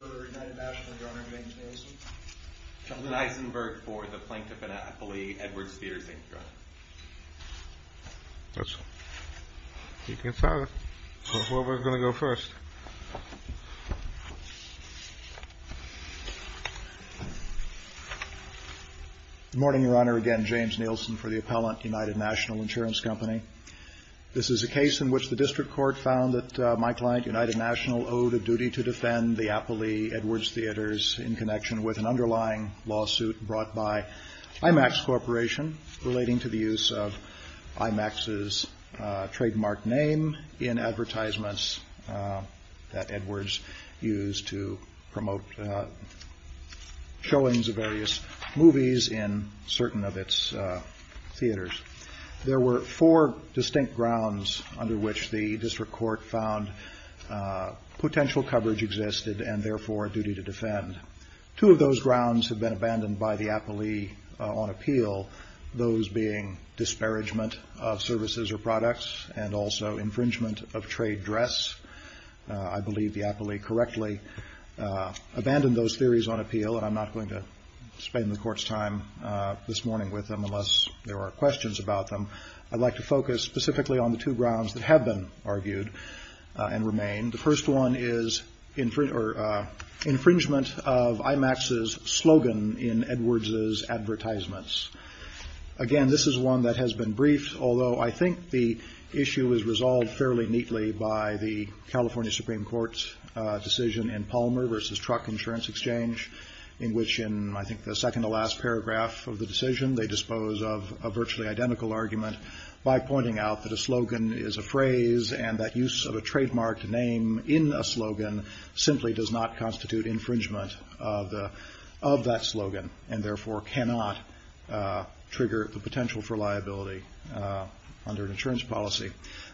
Good morning, Your Honor. Again, James Nielsen for the Appellant United National Insurance Company. This is a case in which the district court found that my client, United National, owed a duty to defend the Appley Edwards Theaters in connection with an underlying lawsuit brought by IMAX Corporation relating to the use of IMAX's trademark name in advertisements that Edwards used to promote showings of various movies in certain of its theaters. There were four distinct grounds under which the district court found potential coverage existed and therefore a duty to defend. Two of those grounds have been abandoned by the Appley on appeal, those being disparagement of services or products and also infringement of trade dress. I believe the Appley correctly abandoned those theories on appeal, and I'm not going to spend the time. I'd like to focus specifically on the two grounds that have been argued and remain. The first one is infringement of IMAX's slogan in Edwards's advertisements. Again, this is one that has been briefed, although I think the issue is resolved fairly neatly by the California Supreme Court's decision in Palmer v. Truck Insurance Exchange in which in, I dispose of a virtually identical argument by pointing out that a slogan is a phrase and that use of a trademark name in a slogan simply does not constitute infringement of that slogan and therefore cannot trigger the potential for liability under an insurance policy.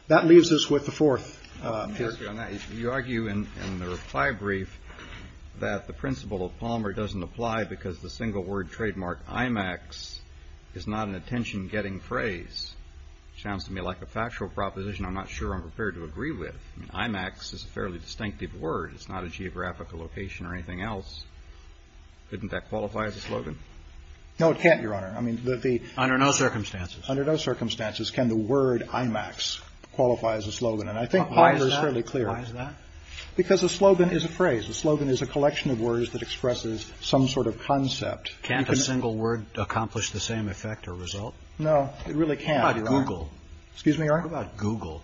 That leaves us with the fourth. You argue in the reply brief that the principle of Palmer doesn't apply because the single word trademark, IMAX, is not an attention-getting phrase. Sounds to me like a factual proposition I'm not sure I'm prepared to agree with. IMAX is a fairly distinctive word. It's not a geographic location or anything else. Couldn't that qualify as a slogan? No, it can't, Your Honor. I mean, the the the Under no circumstances. Under no circumstances can the word IMAX qualify as a slogan, and I think Palmer is fairly clear. Why is that? Because a slogan is a phrase. A slogan is a collection of words that expresses some sort of concept. Can't a single word accomplish the same effect or result? No, it really can't. What about Google? Excuse me, Your Honor. What about Google?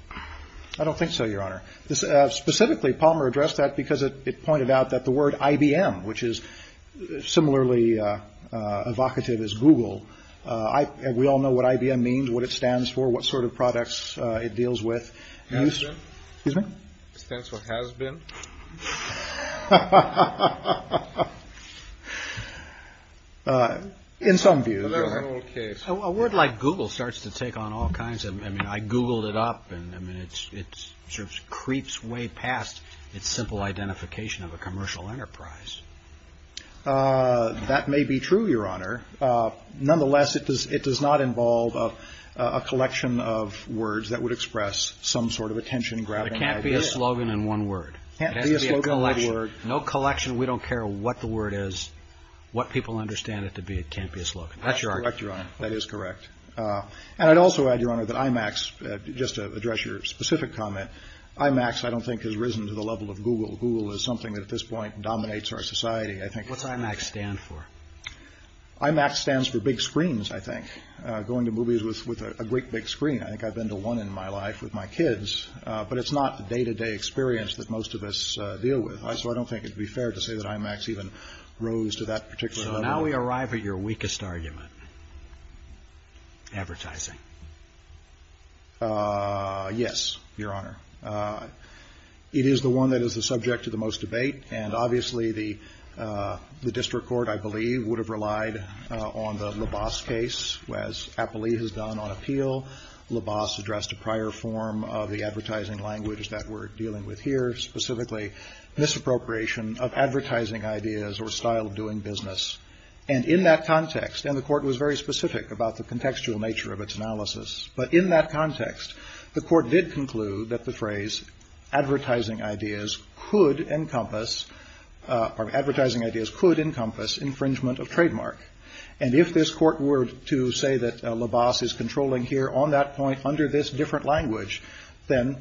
I don't think so, Your Honor. Specifically, Palmer addressed that because it pointed out that the word IBM, which is similarly evocative as Google, we all know what IBM means, what it stands for, what sort of products it deals with. Has been? Excuse me? Stands for has been. In some views, a word like Google starts to take on all kinds of I mean, I Googled it up and I mean, it's it's sort of creeps way past its simple identification of a commercial enterprise. That may be true, Your Honor. Nonetheless, it does. It does not involve a collection of words that would express some sort of attention. It can't be a slogan in one word. It has to be a collection. No collection. We don't care what the word is, what people understand it to be. It can't be a slogan. That's your argument. That is correct. And I'd also add, Your Honor, that IMAX, just to address your specific comment, IMAX, I don't think has risen to the level of Google. Google is something that at this point dominates our society. I think what's IMAX stand for? IMAX stands for big screens. I think going to movies with a great big screen. I think I've been to one in my life with my kids, but it's not the day to day experience that most of us deal with. So I don't think it'd be fair to say that IMAX even rose to that particular. Now we arrive at your weakest argument. Advertising. Yes, Your Honor. It is the one that is the subject of the most debate. And obviously, the district court, I believe, would have relied on the LaBasse case, as Appley has done on appeal. LaBasse addressed a prior form of the advertising language that we're dealing with here, specifically misappropriation of advertising ideas or style of doing business. And in that context, and the court was very specific about the contextual nature of its analysis. But in that context, the court did conclude that the phrase advertising ideas could encompass or advertising ideas could encompass infringement of trademark. And if this court were to say that LaBasse is controlling here on that point under this different language, then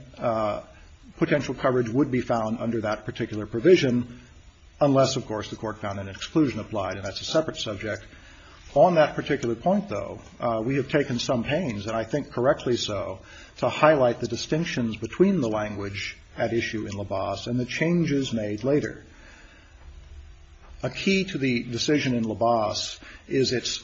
potential coverage would be found under that particular provision. Unless, of course, the court found an exclusion applied. And that's a separate subject on that particular point, though. We have taken some pains, and I think correctly so, to highlight the distinctions between the language at issue in LaBasse and the changes made later. A key to the decision in LaBasse is its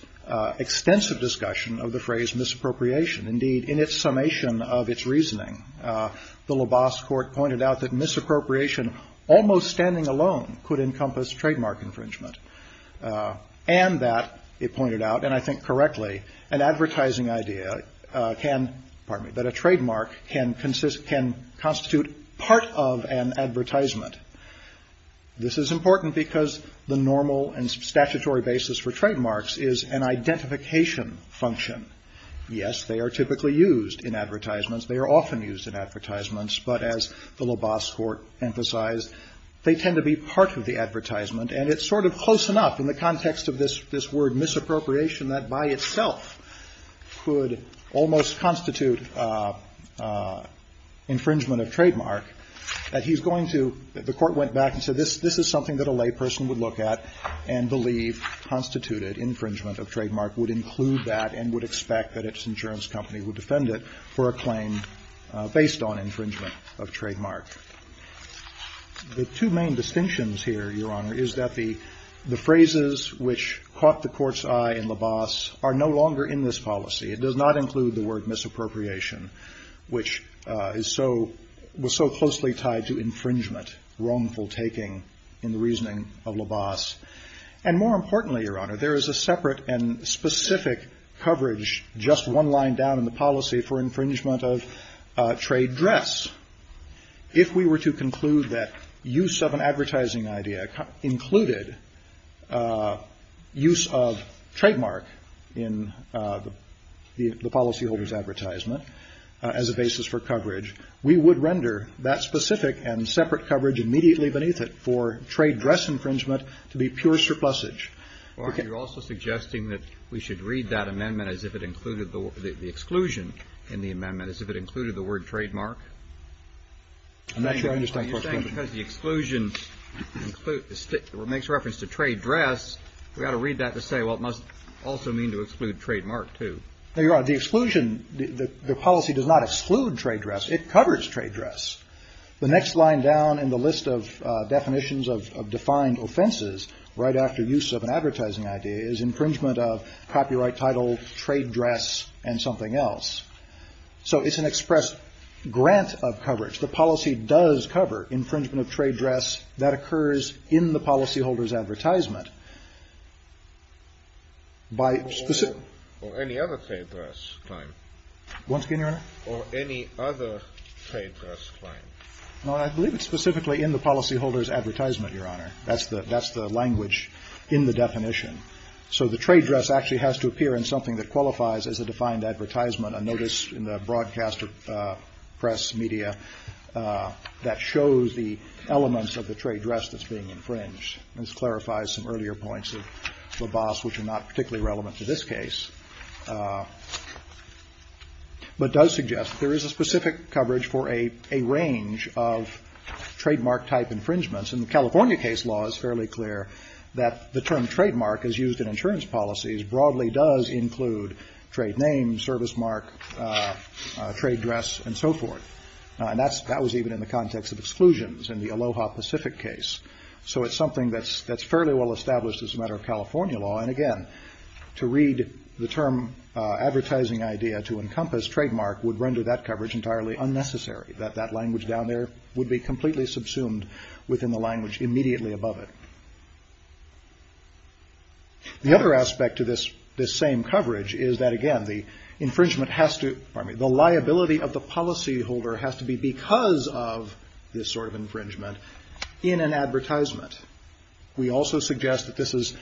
extensive discussion of the phrase misappropriation. Indeed, in its summation of its reasoning, the LaBasse court pointed out that misappropriation almost standing alone could encompass trademark infringement. And that it pointed out, and I think correctly, an advertising idea can, pardon me, that a trademark can constitute part of an advertisement. This is important because the normal and statutory basis for trademarks is an identification function. Yes, they are typically used in advertisements. They are often used in advertisements. But as the LaBasse court emphasized, they tend to be part of the advertisement. And it's sort of close enough in the context of this word misappropriation that by itself could almost constitute infringement of trademark that he's going to, the court went back and said this is something that a layperson would look at and believe constituted infringement of trademark, would include that and would expect that its insurance company would defend it for a claim based on infringement of trademark. The two main distinctions here, Your Honor, is that the phrases which caught the court's eye in LaBasse are no longer in this policy. It does not include the word misappropriation, which is so, was so closely tied to infringement, wrongful taking in the reasoning of LaBasse. And more importantly, Your Honor, there is a separate and specific coverage just one line down in the policy for infringement of trade dress. If we were to conclude that use of an advertising idea included use of trademark in the policyholder's advertisement as a basis for coverage, we would render that specific and separate coverage immediately beneath it for trade dress infringement to be pure surplusage. Well, you're also suggesting that we should read that amendment as if it included the exclusion in the amendment as if it included the word trademark? I'm not sure I understand what you're saying. Because the exclusion makes reference to trade dress, we ought to read that to say, well, it must also mean to exclude trademark, too. Now, Your Honor, the exclusion, the policy does not exclude trade dress. It covers trade dress. The next line down in the list of definitions of defined offenses right after use of an advertising idea is infringement of copyright title, trade dress and something else. So it's an express grant of coverage. The policy does cover infringement of trade dress that occurs in the policyholders advertisement. Or any other trade dress, Cline? Once again, Your Honor? Or any other trade dress, Cline? No, I believe it's specifically in the policyholders advertisement, Your Honor. That's the language in the definition. So the trade dress actually has to appear in something that qualifies as a defined advertisement, a notice in the broadcaster press media that shows the elements of the trade dress that's being infringed. This clarifies some earlier points of LaBasse which are not particularly relevant to this case. But does suggest there is a specific coverage for a range of trademark-type infringements. And the California case law is fairly clear that the term trademark is used in insurance policies, broadly does include trade name, service mark, trade dress and so forth. And that was even in the context of exclusions in the Aloha Pacific case. So it's something that's fairly well established as a matter of California law. And again, to read the term advertising idea to encompass trademark would render that coverage entirely unnecessary. That language down there would be completely subsumed within the language immediately above it. The other aspect to this same coverage is that, again, the infringement has to, pardon me, the liability of the policyholder has to be because of this sort of infringement in an advertisement. We also suggest that this is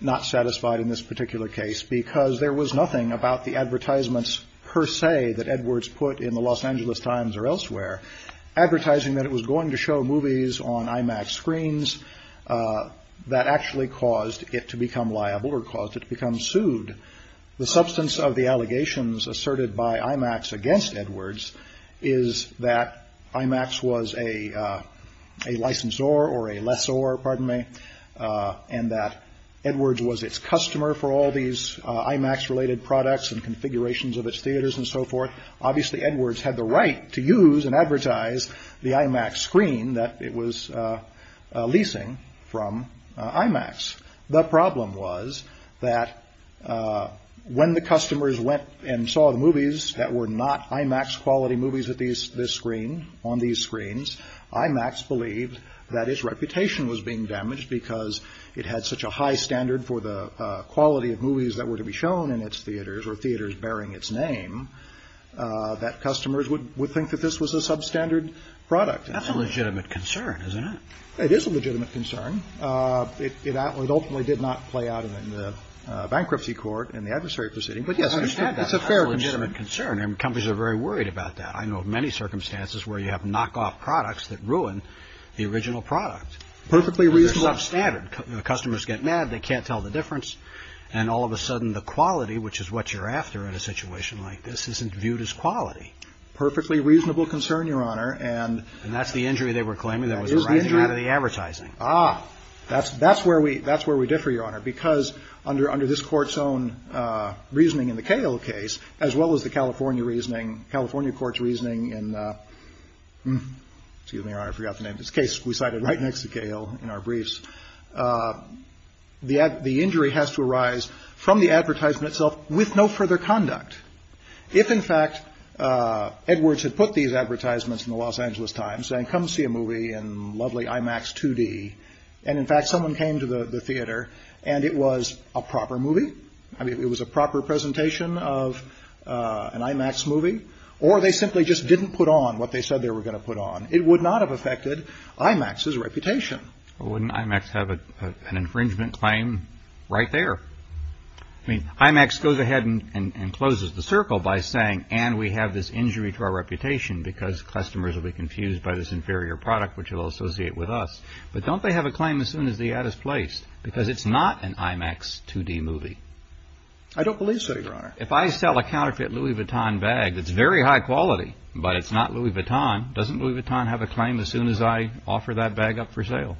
not satisfied in this particular case because there was nothing about the advertisements per se that Edwards put in the Los Angeles Times or elsewhere. Advertising that it was going to show movies on IMAX screens that actually caused it to become liable or caused it to become sued. The substance of the allegations asserted by IMAX against Edwards is that IMAX was a licensor or a lessor. Pardon me. And that Edwards was its customer for all these IMAX related products and configurations of its theaters and so forth. Obviously Edwards had the right to use and advertise the IMAX screen that it was leasing from IMAX. The problem was that when the customers went and saw the movies that were not IMAX quality movies at this screen, on these screens, IMAX believed that its reputation was being damaged because it had such a high standard for the quality of movies that were to be shown in its theaters or theaters bearing its name. That customers would think that this was a substandard product. That's a legitimate concern, isn't it? It is a legitimate concern. It ultimately did not play out in the bankruptcy court and the adversary proceeding. But yes, it's a fair legitimate concern. And companies are very worried about that. I know of many circumstances where you have knockoff products that ruin the original product. Perfectly reasonable. Customers get mad. They can't tell the difference. And all of a sudden the quality, which is what you're after in a situation like this, isn't viewed as quality. Perfectly reasonable concern, Your Honor. And that's the injury they were claiming that was arising out of the advertising. Ah, that's that's where we that's where we differ, Your Honor, because under under this court's own reasoning in the Cahill case, as well as the California reasoning, California court's reasoning and excuse me, Your Honor, I forgot the name of this case we cited right next to Cahill in our briefs. The the injury has to arise from the advertisement itself with no further conduct. If, in fact, Edwards had put these advertisements in the Los Angeles Times and come see a movie and lovely IMAX 2D. And in fact, someone came to the theater and it was a proper movie. I mean, it was a proper presentation of an IMAX movie or they simply just didn't put on what they said they were going to put on. It would not have affected IMAX's reputation. Wouldn't IMAX have an infringement claim right there? I mean, IMAX goes ahead and closes the circle by saying, and we have this injury to our reputation because customers will be confused by this inferior product, which will associate with us. But don't they have a claim as soon as the ad is placed because it's not an IMAX 2D movie? I don't believe so, Your Honor. If I sell a counterfeit Louis Vuitton bag that's very high quality, but it's not Louis Vuitton, doesn't Louis Vuitton have a claim as soon as I offer that bag up for sale?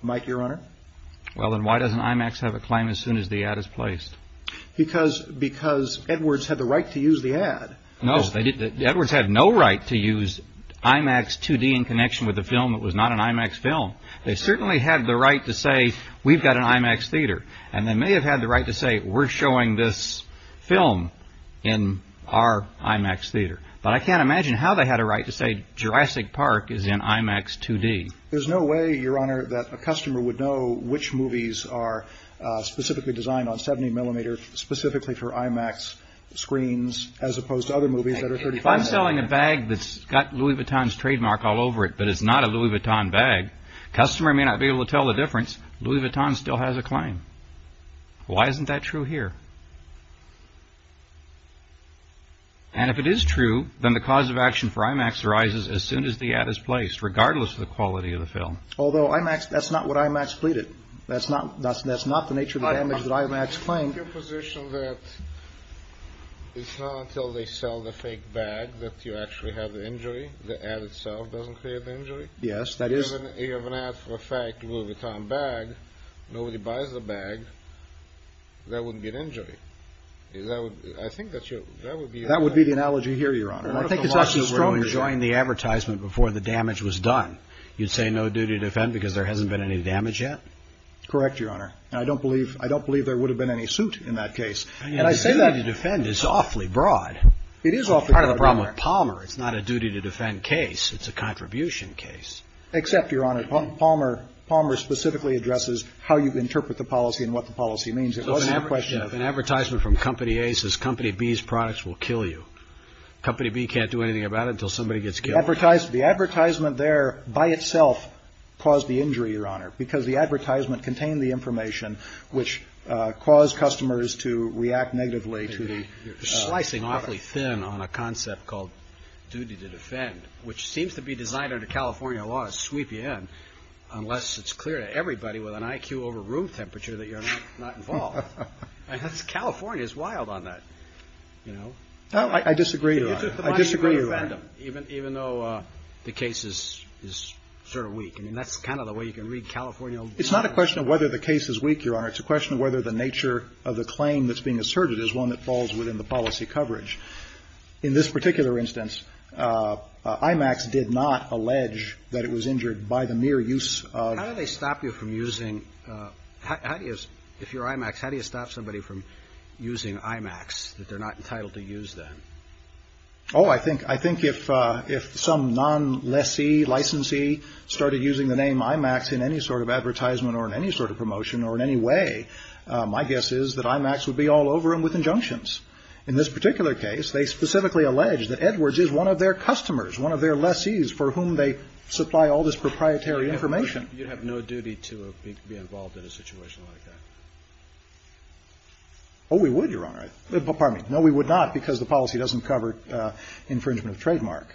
Mike, Your Honor. Well, then why doesn't IMAX have a claim as soon as the ad is placed? Because because Edwards had the right to use the ad. No, Edwards had no right to use IMAX 2D in connection with a film that was not an IMAX film. They certainly had the right to say, we've got an IMAX theater. And they may have had the right to say, we're showing this film in our IMAX theater. But I can't imagine how they had a right to say Jurassic Park is in IMAX 2D. There's no way, Your Honor, that a customer would know which movies are specifically designed on 70 millimeter, specifically for IMAX screens, as opposed to other movies that are 35. If I'm selling a bag that's got Louis Vuitton's trademark all over it, but it's not a Louis Vuitton bag, customer may not be able to tell the difference. Louis Vuitton still has a claim. Why isn't that true here? And if it is true, then the cause of action for IMAX arises as soon as the ad is placed, regardless of the quality of the film. Although IMAX, that's not what IMAX pleaded. That's not that's that's not the nature of the damage that IMAX claimed. Your position that it's not until they sell the fake bag that you actually have the injury, the ad itself doesn't create the injury? Yes, that is. If you have an ad for a fake Louis Vuitton bag, nobody buys the bag. That wouldn't be an injury. I think that's true. That would be the analogy here, Your Honor. I think it's actually stronger. What if the monster were enjoying the advertisement before the damage was done? You'd say no duty to defend because there hasn't been any damage yet? Correct, Your Honor. I don't believe I don't believe there would have been any suit in that case. And I say that. The duty to defend is awfully broad. It is awfully broad. Part of the problem with Palmer, it's not a duty to defend case. It's a contribution case. Except, Your Honor, Palmer Palmer specifically addresses how you interpret the policy and what the policy means. It wasn't a question of. An advertisement from Company A says Company B's products will kill you. Company B can't do anything about it until somebody gets killed. The advertisement there by itself caused the injury, Your Honor, because the advertisement contained the information which caused customers to react negatively to the. You're slicing awfully thin on a concept called duty to defend, which seems to be designed under California law to sweep you in unless it's clear to everybody with an IQ over room temperature that you're not involved. California is wild on that, you know. I disagree, Your Honor. I disagree, Your Honor. Even though the case is sort of weak. I mean, that's kind of the way you can read California law. It's not a question of whether the case is weak, Your Honor. It's a question of whether the nature of the claim that's being asserted is one that falls within the policy coverage. In this particular instance, IMAX did not allege that it was injured by the mere use of. How do they stop you from using. If you're IMAX, how do you stop somebody from using IMAX that they're not entitled to use them? Oh, I think I think if if some non lessee licensee started using the name IMAX in any sort of advertisement or in any sort of promotion or in any way, my guess is that IMAX would be all over him with injunctions. In this particular case, they specifically alleged that Edwards is one of their customers, one of their lessees for whom they supply all this proprietary information. You'd have no duty to be involved in a situation like that. Pardon me. No, we would not, because the policy doesn't cover infringement of trademark.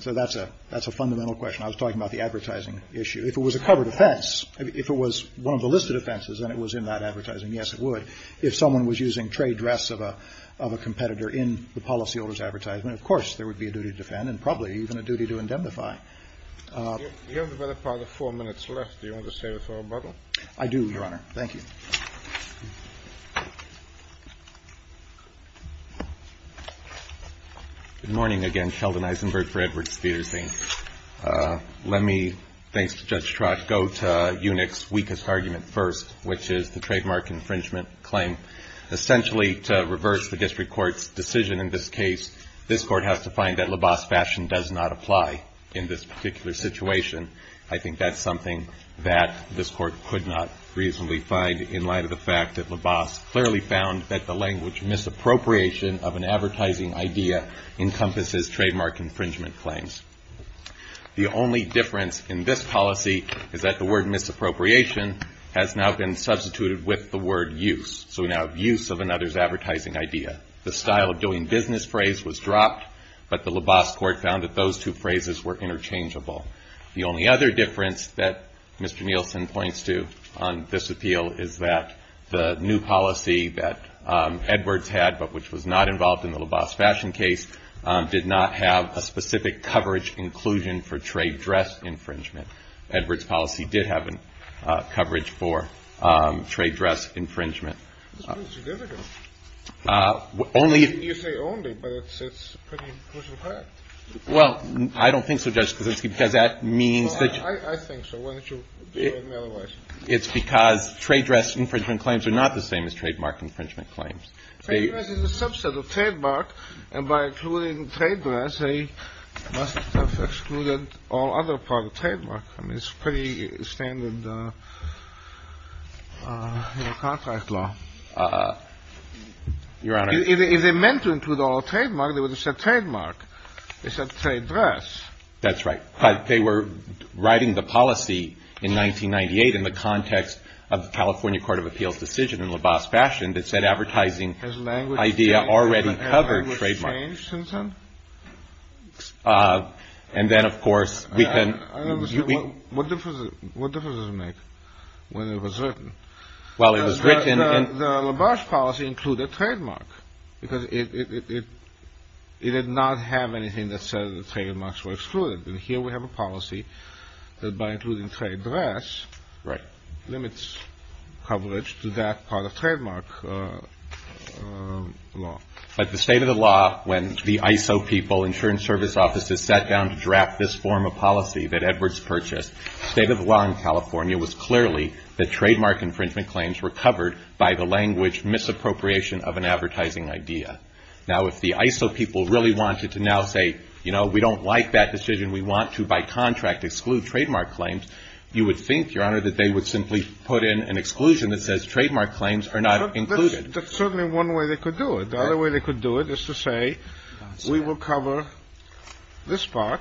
So that's a that's a fundamental question. I was talking about the advertising issue. If it was a cover defense, if it was one of the listed offenses and it was in that advertising, yes, it would. If someone was using trade dress of a of a competitor in the policyholders advertisement, of course, there would be a duty to defend and probably even a duty to indemnify. You have about four minutes left. Do you want to save it for a bottle? I do, Your Honor. Thank you. Good morning again. Sheldon Eisenberg for Edwards Theaters. Let me, thanks to Judge Trott, go to Unix weakest argument first, which is the trademark infringement claim. Essentially, to reverse the district court's decision in this case, this court has to find that LaBasse fashion does not apply in this particular situation. I think that's something that this court could not reasonably find in light of the fact that LaBasse clearly found that the language misappropriation of an advertising idea encompasses trademark infringement claims. The only difference in this policy is that the word misappropriation has now been substituted with the word use. So we now have use of another's advertising idea. The style of doing business phrase was dropped, but the LaBasse court found that those two phrases were interchangeable. The only other difference that Mr. Nielsen points to on this appeal is that the new policy that Edwards had, but which was not involved in the LaBasse fashion case, did not have a specific coverage inclusion for trade dress infringement. Edwards' policy did have coverage for trade dress infringement. It's pretty significant. You say only, but it's a pretty crucial fact. Well, I don't think so, Judge Kuczynski, because that means that... I think so. Why don't you do it in other ways? It's because trade dress infringement claims are not the same as trademark infringement claims. Trade dress is a subset of trademark, and by including trade dress, they must have excluded all other parts of trademark. I mean, it's pretty standard contract law. Your Honor... If they meant to include all of trademark, they would have said trademark. They said trade dress. That's right. But they were writing the policy in 1998 in the context of the California Court of Appeals decision in LaBasse fashion that said advertising idea already covered trademark. Has language changed since then? And then, of course, we can... What difference does it make whether it was written? Well, it was written... The LaBasse policy included trademark because it did not have anything that said the trademarks were excluded. And here we have a policy that by including trade dress... Right. ...limits coverage to that part of trademark law. But the state of the law, when the ISO people, insurance service offices, sat down to draft this form of policy that Edwards purchased, the state of the law in California was clearly that trademark infringement claims were covered by the language misappropriation of an advertising idea. Now, if the ISO people really wanted to now say, you know, we don't like that decision, we want to by contract exclude trademark claims, you would think, Your Honor, that they would simply put in an exclusion that says trademark claims are not included. That's certainly one way they could do it. The other way they could do it is to say we will cover this part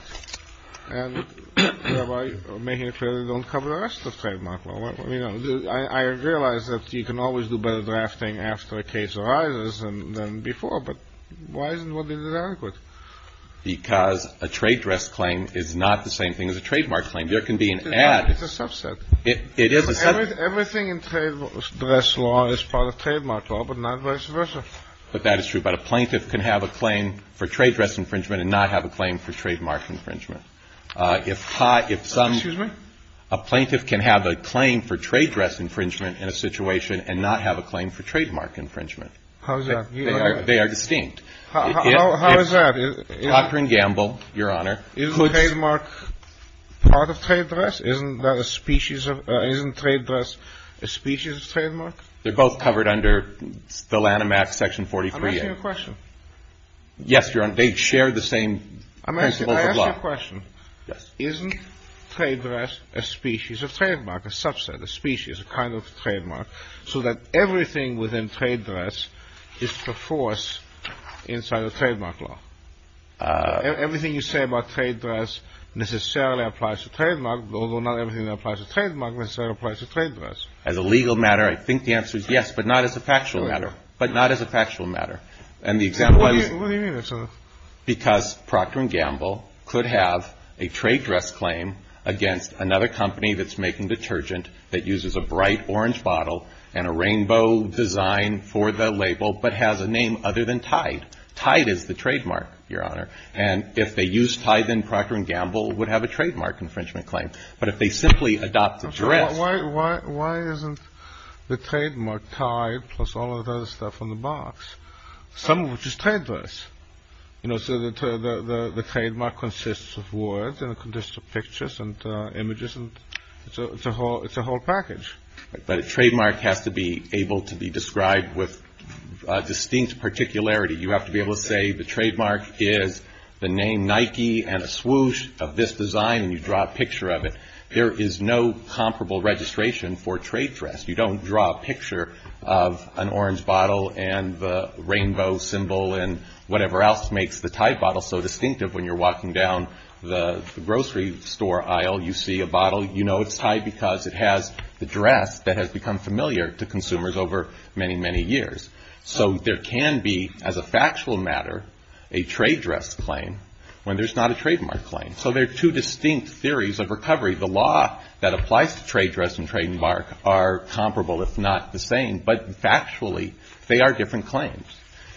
and thereby making it clear they don't cover the rest of trademark law. I realize that you can always do better drafting after a case arises than before, but why isn't it adequate? Because a trade dress claim is not the same thing as a trademark claim. There can be an add. It's a subset. It is a subset. Everything in trade dress law is part of trademark law, but not vice versa. But that is true. But a plaintiff can have a claim for trade dress infringement and not have a claim for trademark infringement. If some... Excuse me? A plaintiff can have a claim for trade dress infringement in a situation and not have a claim for trademark infringement. How is that? They are distinct. How is that? Cochran Gamble, Your Honor... Isn't trademark part of trade dress? Isn't that a species of... Isn't trade dress a species of trademark? They're both covered under the Lanham Act, Section 43A. I'm asking a question. Yes, Your Honor. They share the same principles of law. I'm asking a question. Yes. Isn't trade dress a species of trademark, a subset, a species, a kind of trademark, so that everything within trade dress is perforce inside of trademark law? Everything you say about trade dress necessarily applies to trademark, although not everything that applies to trademark necessarily applies to trade dress. As a legal matter, I think the answer is yes, but not as a factual matter. But not as a factual matter. And the example I was... What do you mean? Because Procter & Gamble could have a trade dress claim against another company that's making detergent that uses a bright orange bottle and a rainbow design for the label, but has a name other than Tide. Tide is the trademark, Your Honor. And if they use Tide, then Procter & Gamble would have a trademark infringement claim. But if they simply adopt the dress... You know, so the trademark consists of words and it consists of pictures and images, and it's a whole package. But a trademark has to be able to be described with distinct particularity. You have to be able to say the trademark is the name Nike and a swoosh of this design, and you draw a picture of it. There is no comparable registration for trade dress. You don't draw a picture of an orange bottle and the rainbow symbol and whatever else makes the Tide bottle so distinctive. When you're walking down the grocery store aisle, you see a bottle. You know it's Tide because it has the dress that has become familiar to consumers over many, many years. So there can be, as a factual matter, a trade dress claim when there's not a trademark claim. So there are two distinct theories of recovery. The law that applies to trade dress and trademark are comparable, if not the same. But factually, they are different claims.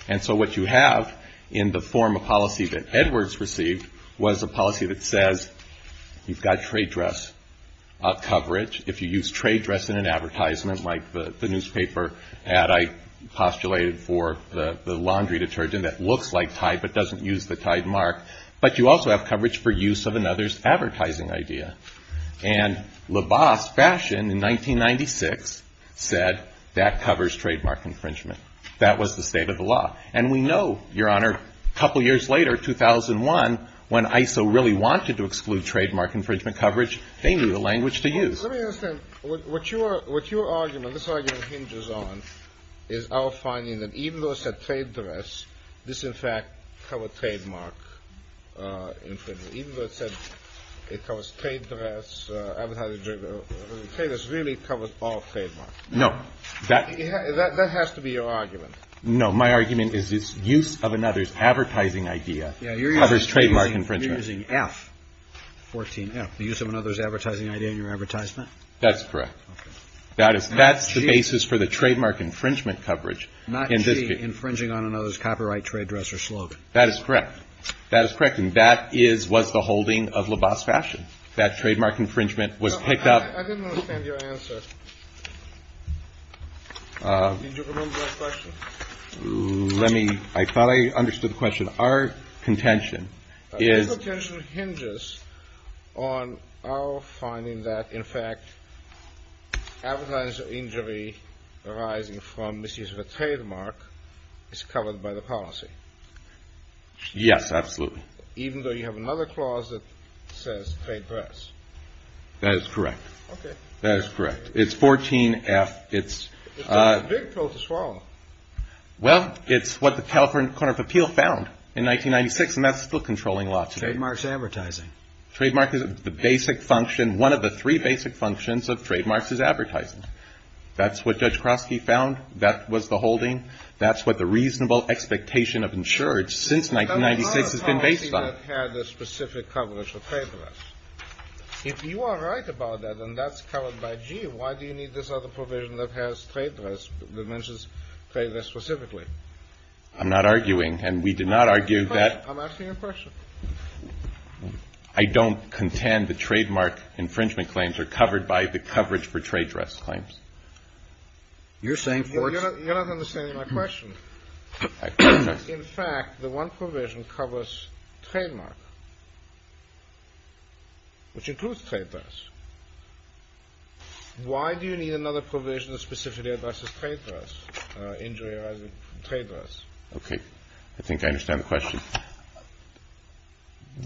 And so what you have in the form of policy that Edwards received was a policy that says you've got trade dress coverage. If you use trade dress in an advertisement like the newspaper ad I postulated for the laundry detergent that looks like Tide but doesn't use the Tide mark. But you also have coverage for use of another's advertising idea. And LaBasse fashioned in 1996 said that covers trademark infringement. That was the state of the law. And we know, Your Honor, a couple years later, 2001, when ISO really wanted to exclude trademark infringement coverage, they knew the language to use. Let me ask them what you are, what your argument, this argument hinges on, is our finding that even though it said trade dress, this, in fact, covered trademark infringement. Even though it said it covers trade dress, it really covers all trademarks. No. That has to be your argument. No. My argument is this use of another's advertising idea covers trademark infringement. Using F, 14F, the use of another's advertising idea in your advertisement. That's correct. Okay. That is, that's the basis for the trademark infringement coverage. Not G, infringing on another's copyright trade dress or slogan. That is correct. That is correct. And that is, was the holding of LaBasse fashioned. That trademark infringement was picked up. I didn't understand your answer. Did you remember that question? Let me, I thought I understood the question. Our contention is. This contention hinges on our finding that, in fact, advertising injury arising from misuse of a trademark is covered by the policy. Yes, absolutely. Even though you have another clause that says trade dress. That is correct. Okay. That is correct. It's a big pill to swallow. Well, it's what the California Court of Appeal found in 1996. And that's still controlling law today. Trademarks advertising. Trademark is the basic function. One of the three basic functions of trademarks is advertising. That's what Judge Kroski found. That was the holding. That's what the reasonable expectation of insurance since 1996 has been based on. That's not a policy that had the specific coverage of trade dress. If you are right about that, then that's covered by G. Why do you need this other provision that has trade dress that mentions trade dress specifically? I'm not arguing. And we did not argue that. I'm asking a question. I don't contend the trademark infringement claims are covered by the coverage for trade dress claims. You're saying. You're not understanding my question. In fact, the one provision covers trademark. Which includes trade dress. Why do you need another provision of specificity about trade dress injury? Trade dress. Okay. I think I understand the question.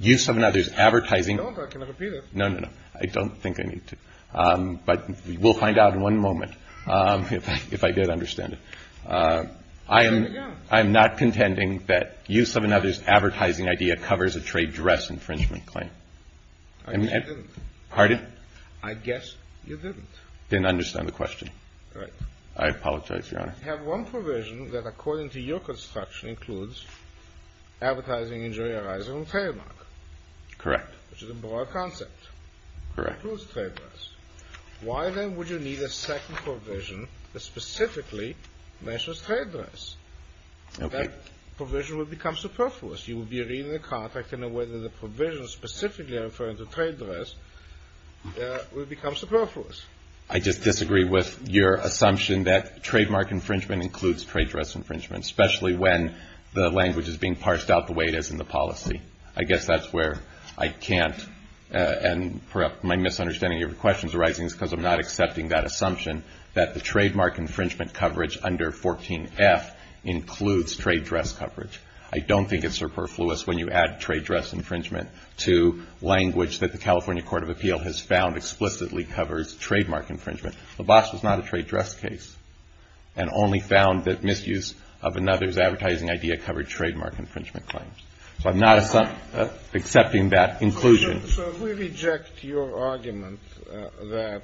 Use of another's advertising. No, no, no. I don't think I need to. But we'll find out in one moment. If I did understand it. I am. I'm not contending that use of another's advertising idea covers a trade dress infringement claim. Pardon. I guess you didn't. Didn't understand the question. Right. I apologize, Your Honor. You have one provision that according to your construction includes advertising injury arising from trademark. Correct. Which is a broad concept. Correct. Includes trade dress. Why then would you need a second provision that specifically mentions trade dress? Okay. That provision would become superfluous. I just disagree with your assumption that trademark infringement includes trade dress infringement. Especially when the language is being parsed out the way it is in the policy. I guess that's where I can't. And perhaps my misunderstanding of your question is arising because I'm not accepting that assumption that the trademark infringement coverage under 14F includes trade dress coverage. I don't think it's superfluous. When you add trade dress infringement to language that the California Court of Appeal has found explicitly covers trademark infringement. Laboss was not a trade dress case and only found that misuse of another's advertising idea covered trademark infringement claims. So I'm not accepting that inclusion. So if we reject your argument that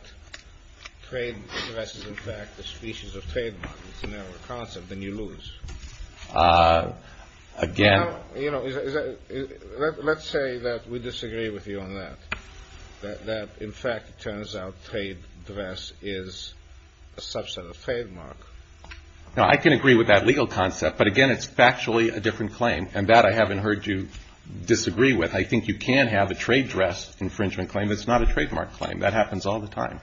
trade dress is in fact a species of trademark, it's a narrower concept, then you lose. Again. Well, you know, let's say that we disagree with you on that. That in fact, it turns out trade dress is a subset of trademark. Now, I can agree with that legal concept. But again, it's factually a different claim. And that I haven't heard you disagree with. I think you can have a trade dress infringement claim. It's not a trademark claim. That happens all the time.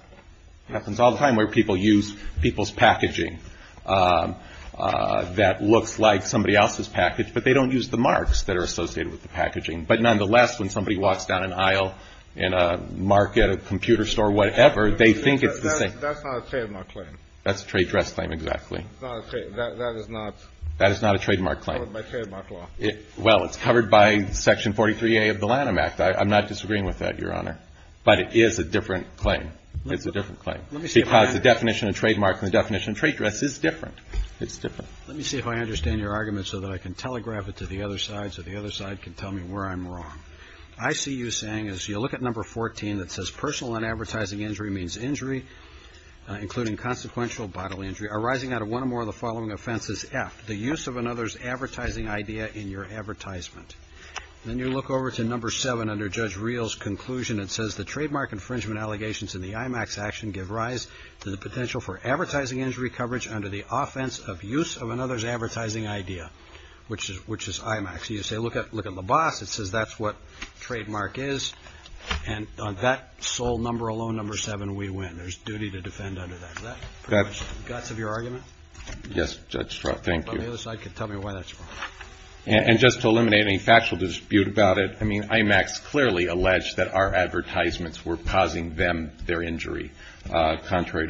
It happens all the time where people use people's packaging that looks like somebody else's package. But they don't use the marks that are associated with the packaging. But nonetheless, when somebody walks down an aisle in a market, a computer store, whatever, they think it's the same. That's not a trademark claim. That's a trade dress claim, exactly. That is not. That is not a trademark claim. It's covered by trademark law. Well, it's covered by Section 43A of the Lanham Act. I'm not disagreeing with that, Your Honor. But it is a different claim. It's a different claim. Because the definition of trademark and the definition of trade dress is different. It's different. Let me see if I understand your argument so that I can telegraph it to the other side so the other side can tell me where I'm wrong. I see you saying, as you look at number 14 that says, personal and advertising injury means injury, including consequential bodily injury, arising out of one or more of the following offenses, F, the use of another's advertising idea in your advertisement. Then you look over to number 7 under Judge Reel's conclusion. It says, the trademark infringement allegations in the IMAX action give rise to the potential for advertising injury coverage under the offense of use of another's advertising idea, which is IMAX. So you say, look at the boss. It says that's what trademark is. And on that sole number alone, number 7, we win. There's duty to defend under that. Is that pretty much the guts of your argument? Yes, Judge Straub. Thank you. The other side can tell me why that's wrong. And just to eliminate any factual dispute about it, I mean, contrary to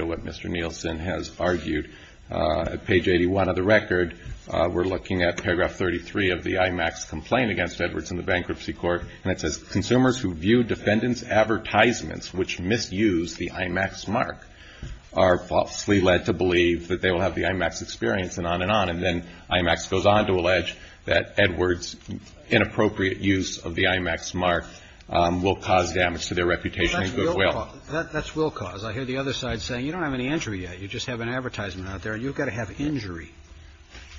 what Mr. Nielsen has argued, at page 81 of the record, we're looking at paragraph 33 of the IMAX complaint against Edwards in the bankruptcy court, and it says, consumers who view defendants' advertisements which misuse the IMAX mark are falsely led to believe that they will have the IMAX experience, and on and on. And then IMAX goes on to allege that Edwards' inappropriate use of the IMAX mark will cause damage to their reputation and goodwill. That's will cause. I hear the other side saying, you don't have any injury yet. You just have an advertisement out there. You've got to have injury.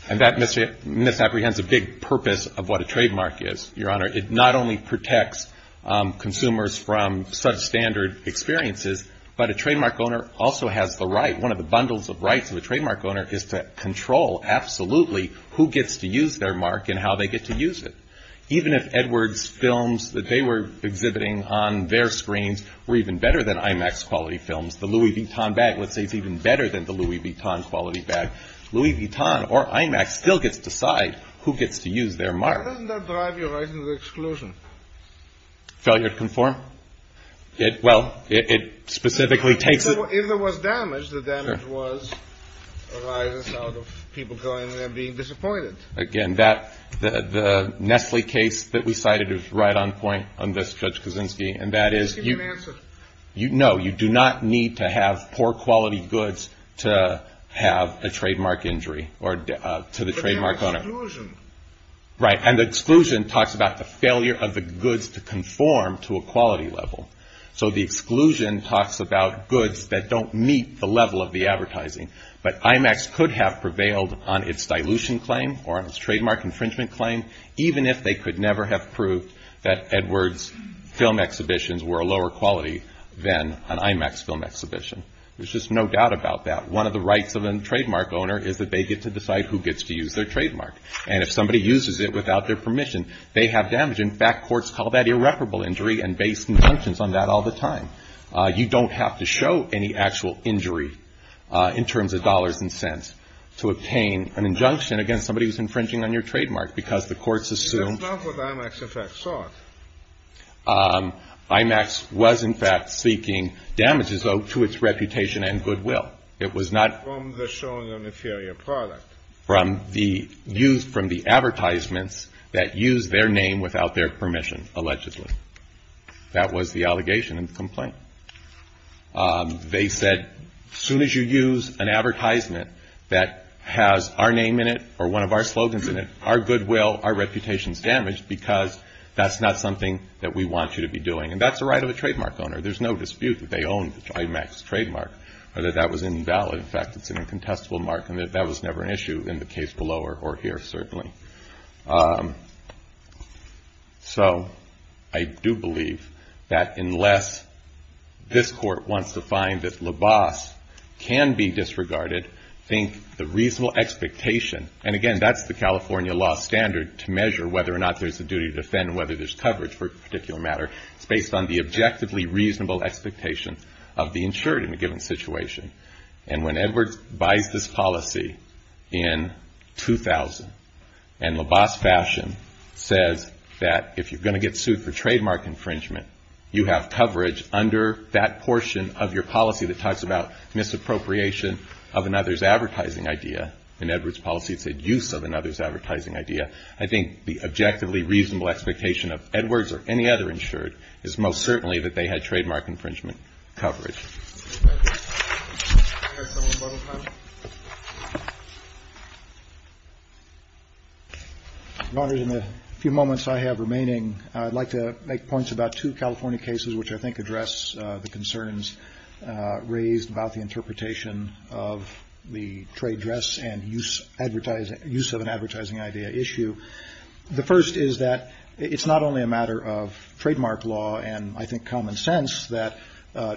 And that misapprehends a big purpose of what a trademark is, Your Honor. It not only protects consumers from such standard experiences, but a trademark owner also has the right, one of the bundles of rights of a trademark owner, is to control absolutely who gets to use their mark and how they get to use it. Even if Edwards' films that they were exhibiting on their screens were even better than IMAX-quality films, the Louis Vuitton bag, let's say, is even better than the Louis Vuitton-quality bag, Louis Vuitton or IMAX still gets to decide who gets to use their mark. Why doesn't that drive Your Honor to the exclusion? Failure to conform? Well, it specifically takes it. Well, if there was damage, the damage arises out of people going there and being disappointed. Again, the Nestle case that we cited is right on point on this, Judge Kaczynski, and that is... Just give me an answer. No, you do not need to have poor-quality goods to have a trademark injury or to the trademark owner. But there was exclusion. Right, and the exclusion talks about the failure of the goods to conform to a quality level. So the exclusion talks about goods that don't meet the level of the advertising. But IMAX could have prevailed on its dilution claim or on its trademark infringement claim, even if they could never have proved that Edwards' film exhibitions were a lower quality than an IMAX film exhibition. There's just no doubt about that. One of the rights of a trademark owner is that they get to decide who gets to use their trademark. And if somebody uses it without their permission, they have damage. In fact, courts call that irreparable injury and base injunctions on that all the time. You don't have to show any actual injury in terms of dollars and cents to obtain an injunction against somebody who's infringing on your trademark, because the courts assume... But that's not what IMAX, in fact, sought. IMAX was, in fact, seeking damages, though, to its reputation and goodwill. It was not... From the showing of an inferior product. From the use... From the advertisements that use their name without their permission, allegedly. That was the allegation in the complaint. They said, as soon as you use an advertisement that has our name in it or one of our slogans in it, our goodwill, our reputation is damaged because that's not something that we want you to be doing. And that's the right of a trademark owner. There's no dispute that they owned the IMAX trademark or that that was invalid. In fact, it's an incontestable mark and that that was never an issue in the case below or here, certainly. So I do believe that unless this Court wants to find that LABAS can be disregarded, I think the reasonable expectation... And, again, that's the California law standard to measure whether or not there's a duty to defend and whether there's coverage for a particular matter. It's based on the objectively reasonable expectation of the insured in a given situation. And when Edwards buys this policy in 2000 and LABAS fashion says that if you're going to get sued for trademark infringement, you have coverage under that portion of your policy that talks about misappropriation of another's advertising idea. In Edwards' policy, it's a use of another's advertising idea. I think the objectively reasonable expectation of Edwards or any other insured is most certainly that they had trademark infringement coverage. Your Honor, in the few moments I have remaining, I'd like to make points about two California cases which I think address the concerns raised about the interpretation of the trade dress and use of an advertising idea issue. The first is that it's not only a matter of trademark law and, I think, common sense that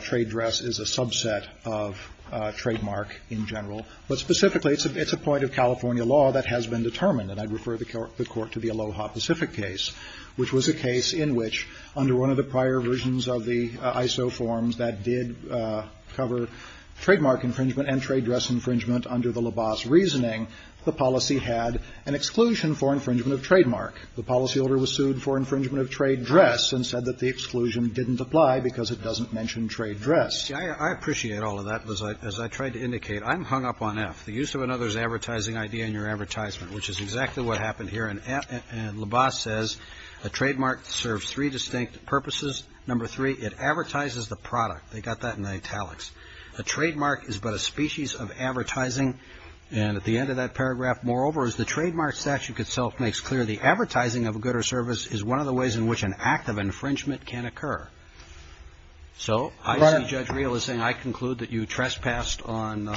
trade dress is a subset of trademark in general, but specifically it's a point of California law that has been determined. And I'd refer the Court to the Aloha Pacific case, which was a case in which under one of the prior versions of the ISO forms that did cover trademark infringement and trade dress infringement under the LABAS reasoning, the policy had an exclusion for infringement of trademark. The policyholder was sued for infringement of trade dress and said that the exclusion didn't apply because it doesn't mention trade dress. I appreciate all of that. As I tried to indicate, I'm hung up on F. The use of another's advertising idea in your advertisement, which is exactly what happened here. And LABAS says a trademark serves three distinct purposes. Number three, it advertises the product. They got that in italics. A trademark is but a species of advertising. And at the end of that paragraph, moreover, as the trademark statute itself makes clear, the advertising of a good or service is one of the ways in which an act of infringement can occur. So I see Judge Reel is saying I conclude that you trespassed on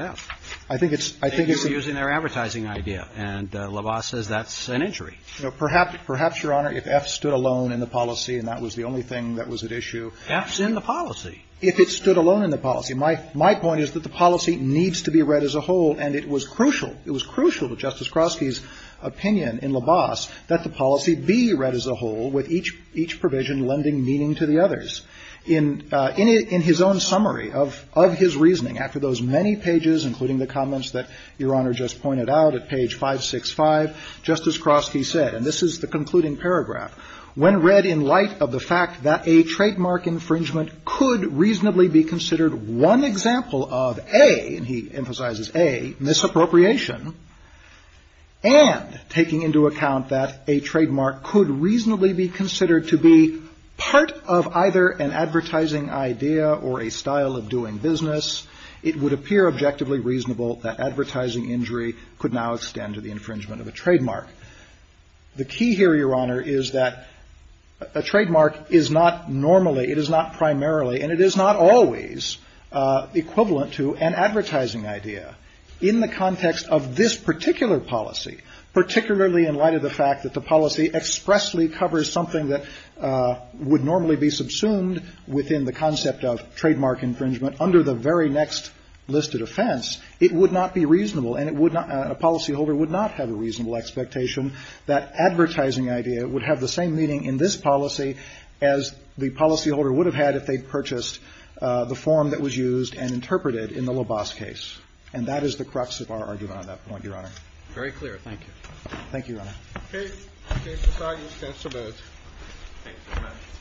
F. I think it's using their advertising idea. And LABAS says that's an injury. Perhaps, Your Honor, if F stood alone in the policy and that was the only thing that was at issue. F's in the policy. If it stood alone in the policy. My point is that the policy needs to be read as a whole. And it was crucial. It was crucial to Justice Kroski's opinion in LABAS that the policy be read as a whole with each provision lending meaning to the others. In his own summary of his reasoning, after those many pages, including the comments that Your Honor just pointed out at page 565, Justice Kroski said, and this is the concluding paragraph, When read in light of the fact that a trademark infringement could reasonably be considered one example of A, and he emphasizes A, misappropriation, and taking into account that a trademark could reasonably be considered to be part of either an advertising idea or a style of doing business, it would appear objectively reasonable that advertising injury could now extend to the infringement of a trademark. The key here, Your Honor, is that a trademark is not normally, it is not primarily, and it is not always equivalent to an advertising idea. In the context of this particular policy, particularly in light of the fact that the policy expressly covers something that would normally be subsumed within the concept of trademark infringement under the very next list of offense, it would not be reasonable and a policyholder would not have a reasonable expectation that advertising idea would have the same meaning in this policy as the policyholder would have had if they purchased the form that was used and interpreted in the Lobos case. And that is the crux of our argument on that point, Your Honor. Very clear. Thank you. Thank you, Your Honor. Okay. The case is signed. The case is dismissed.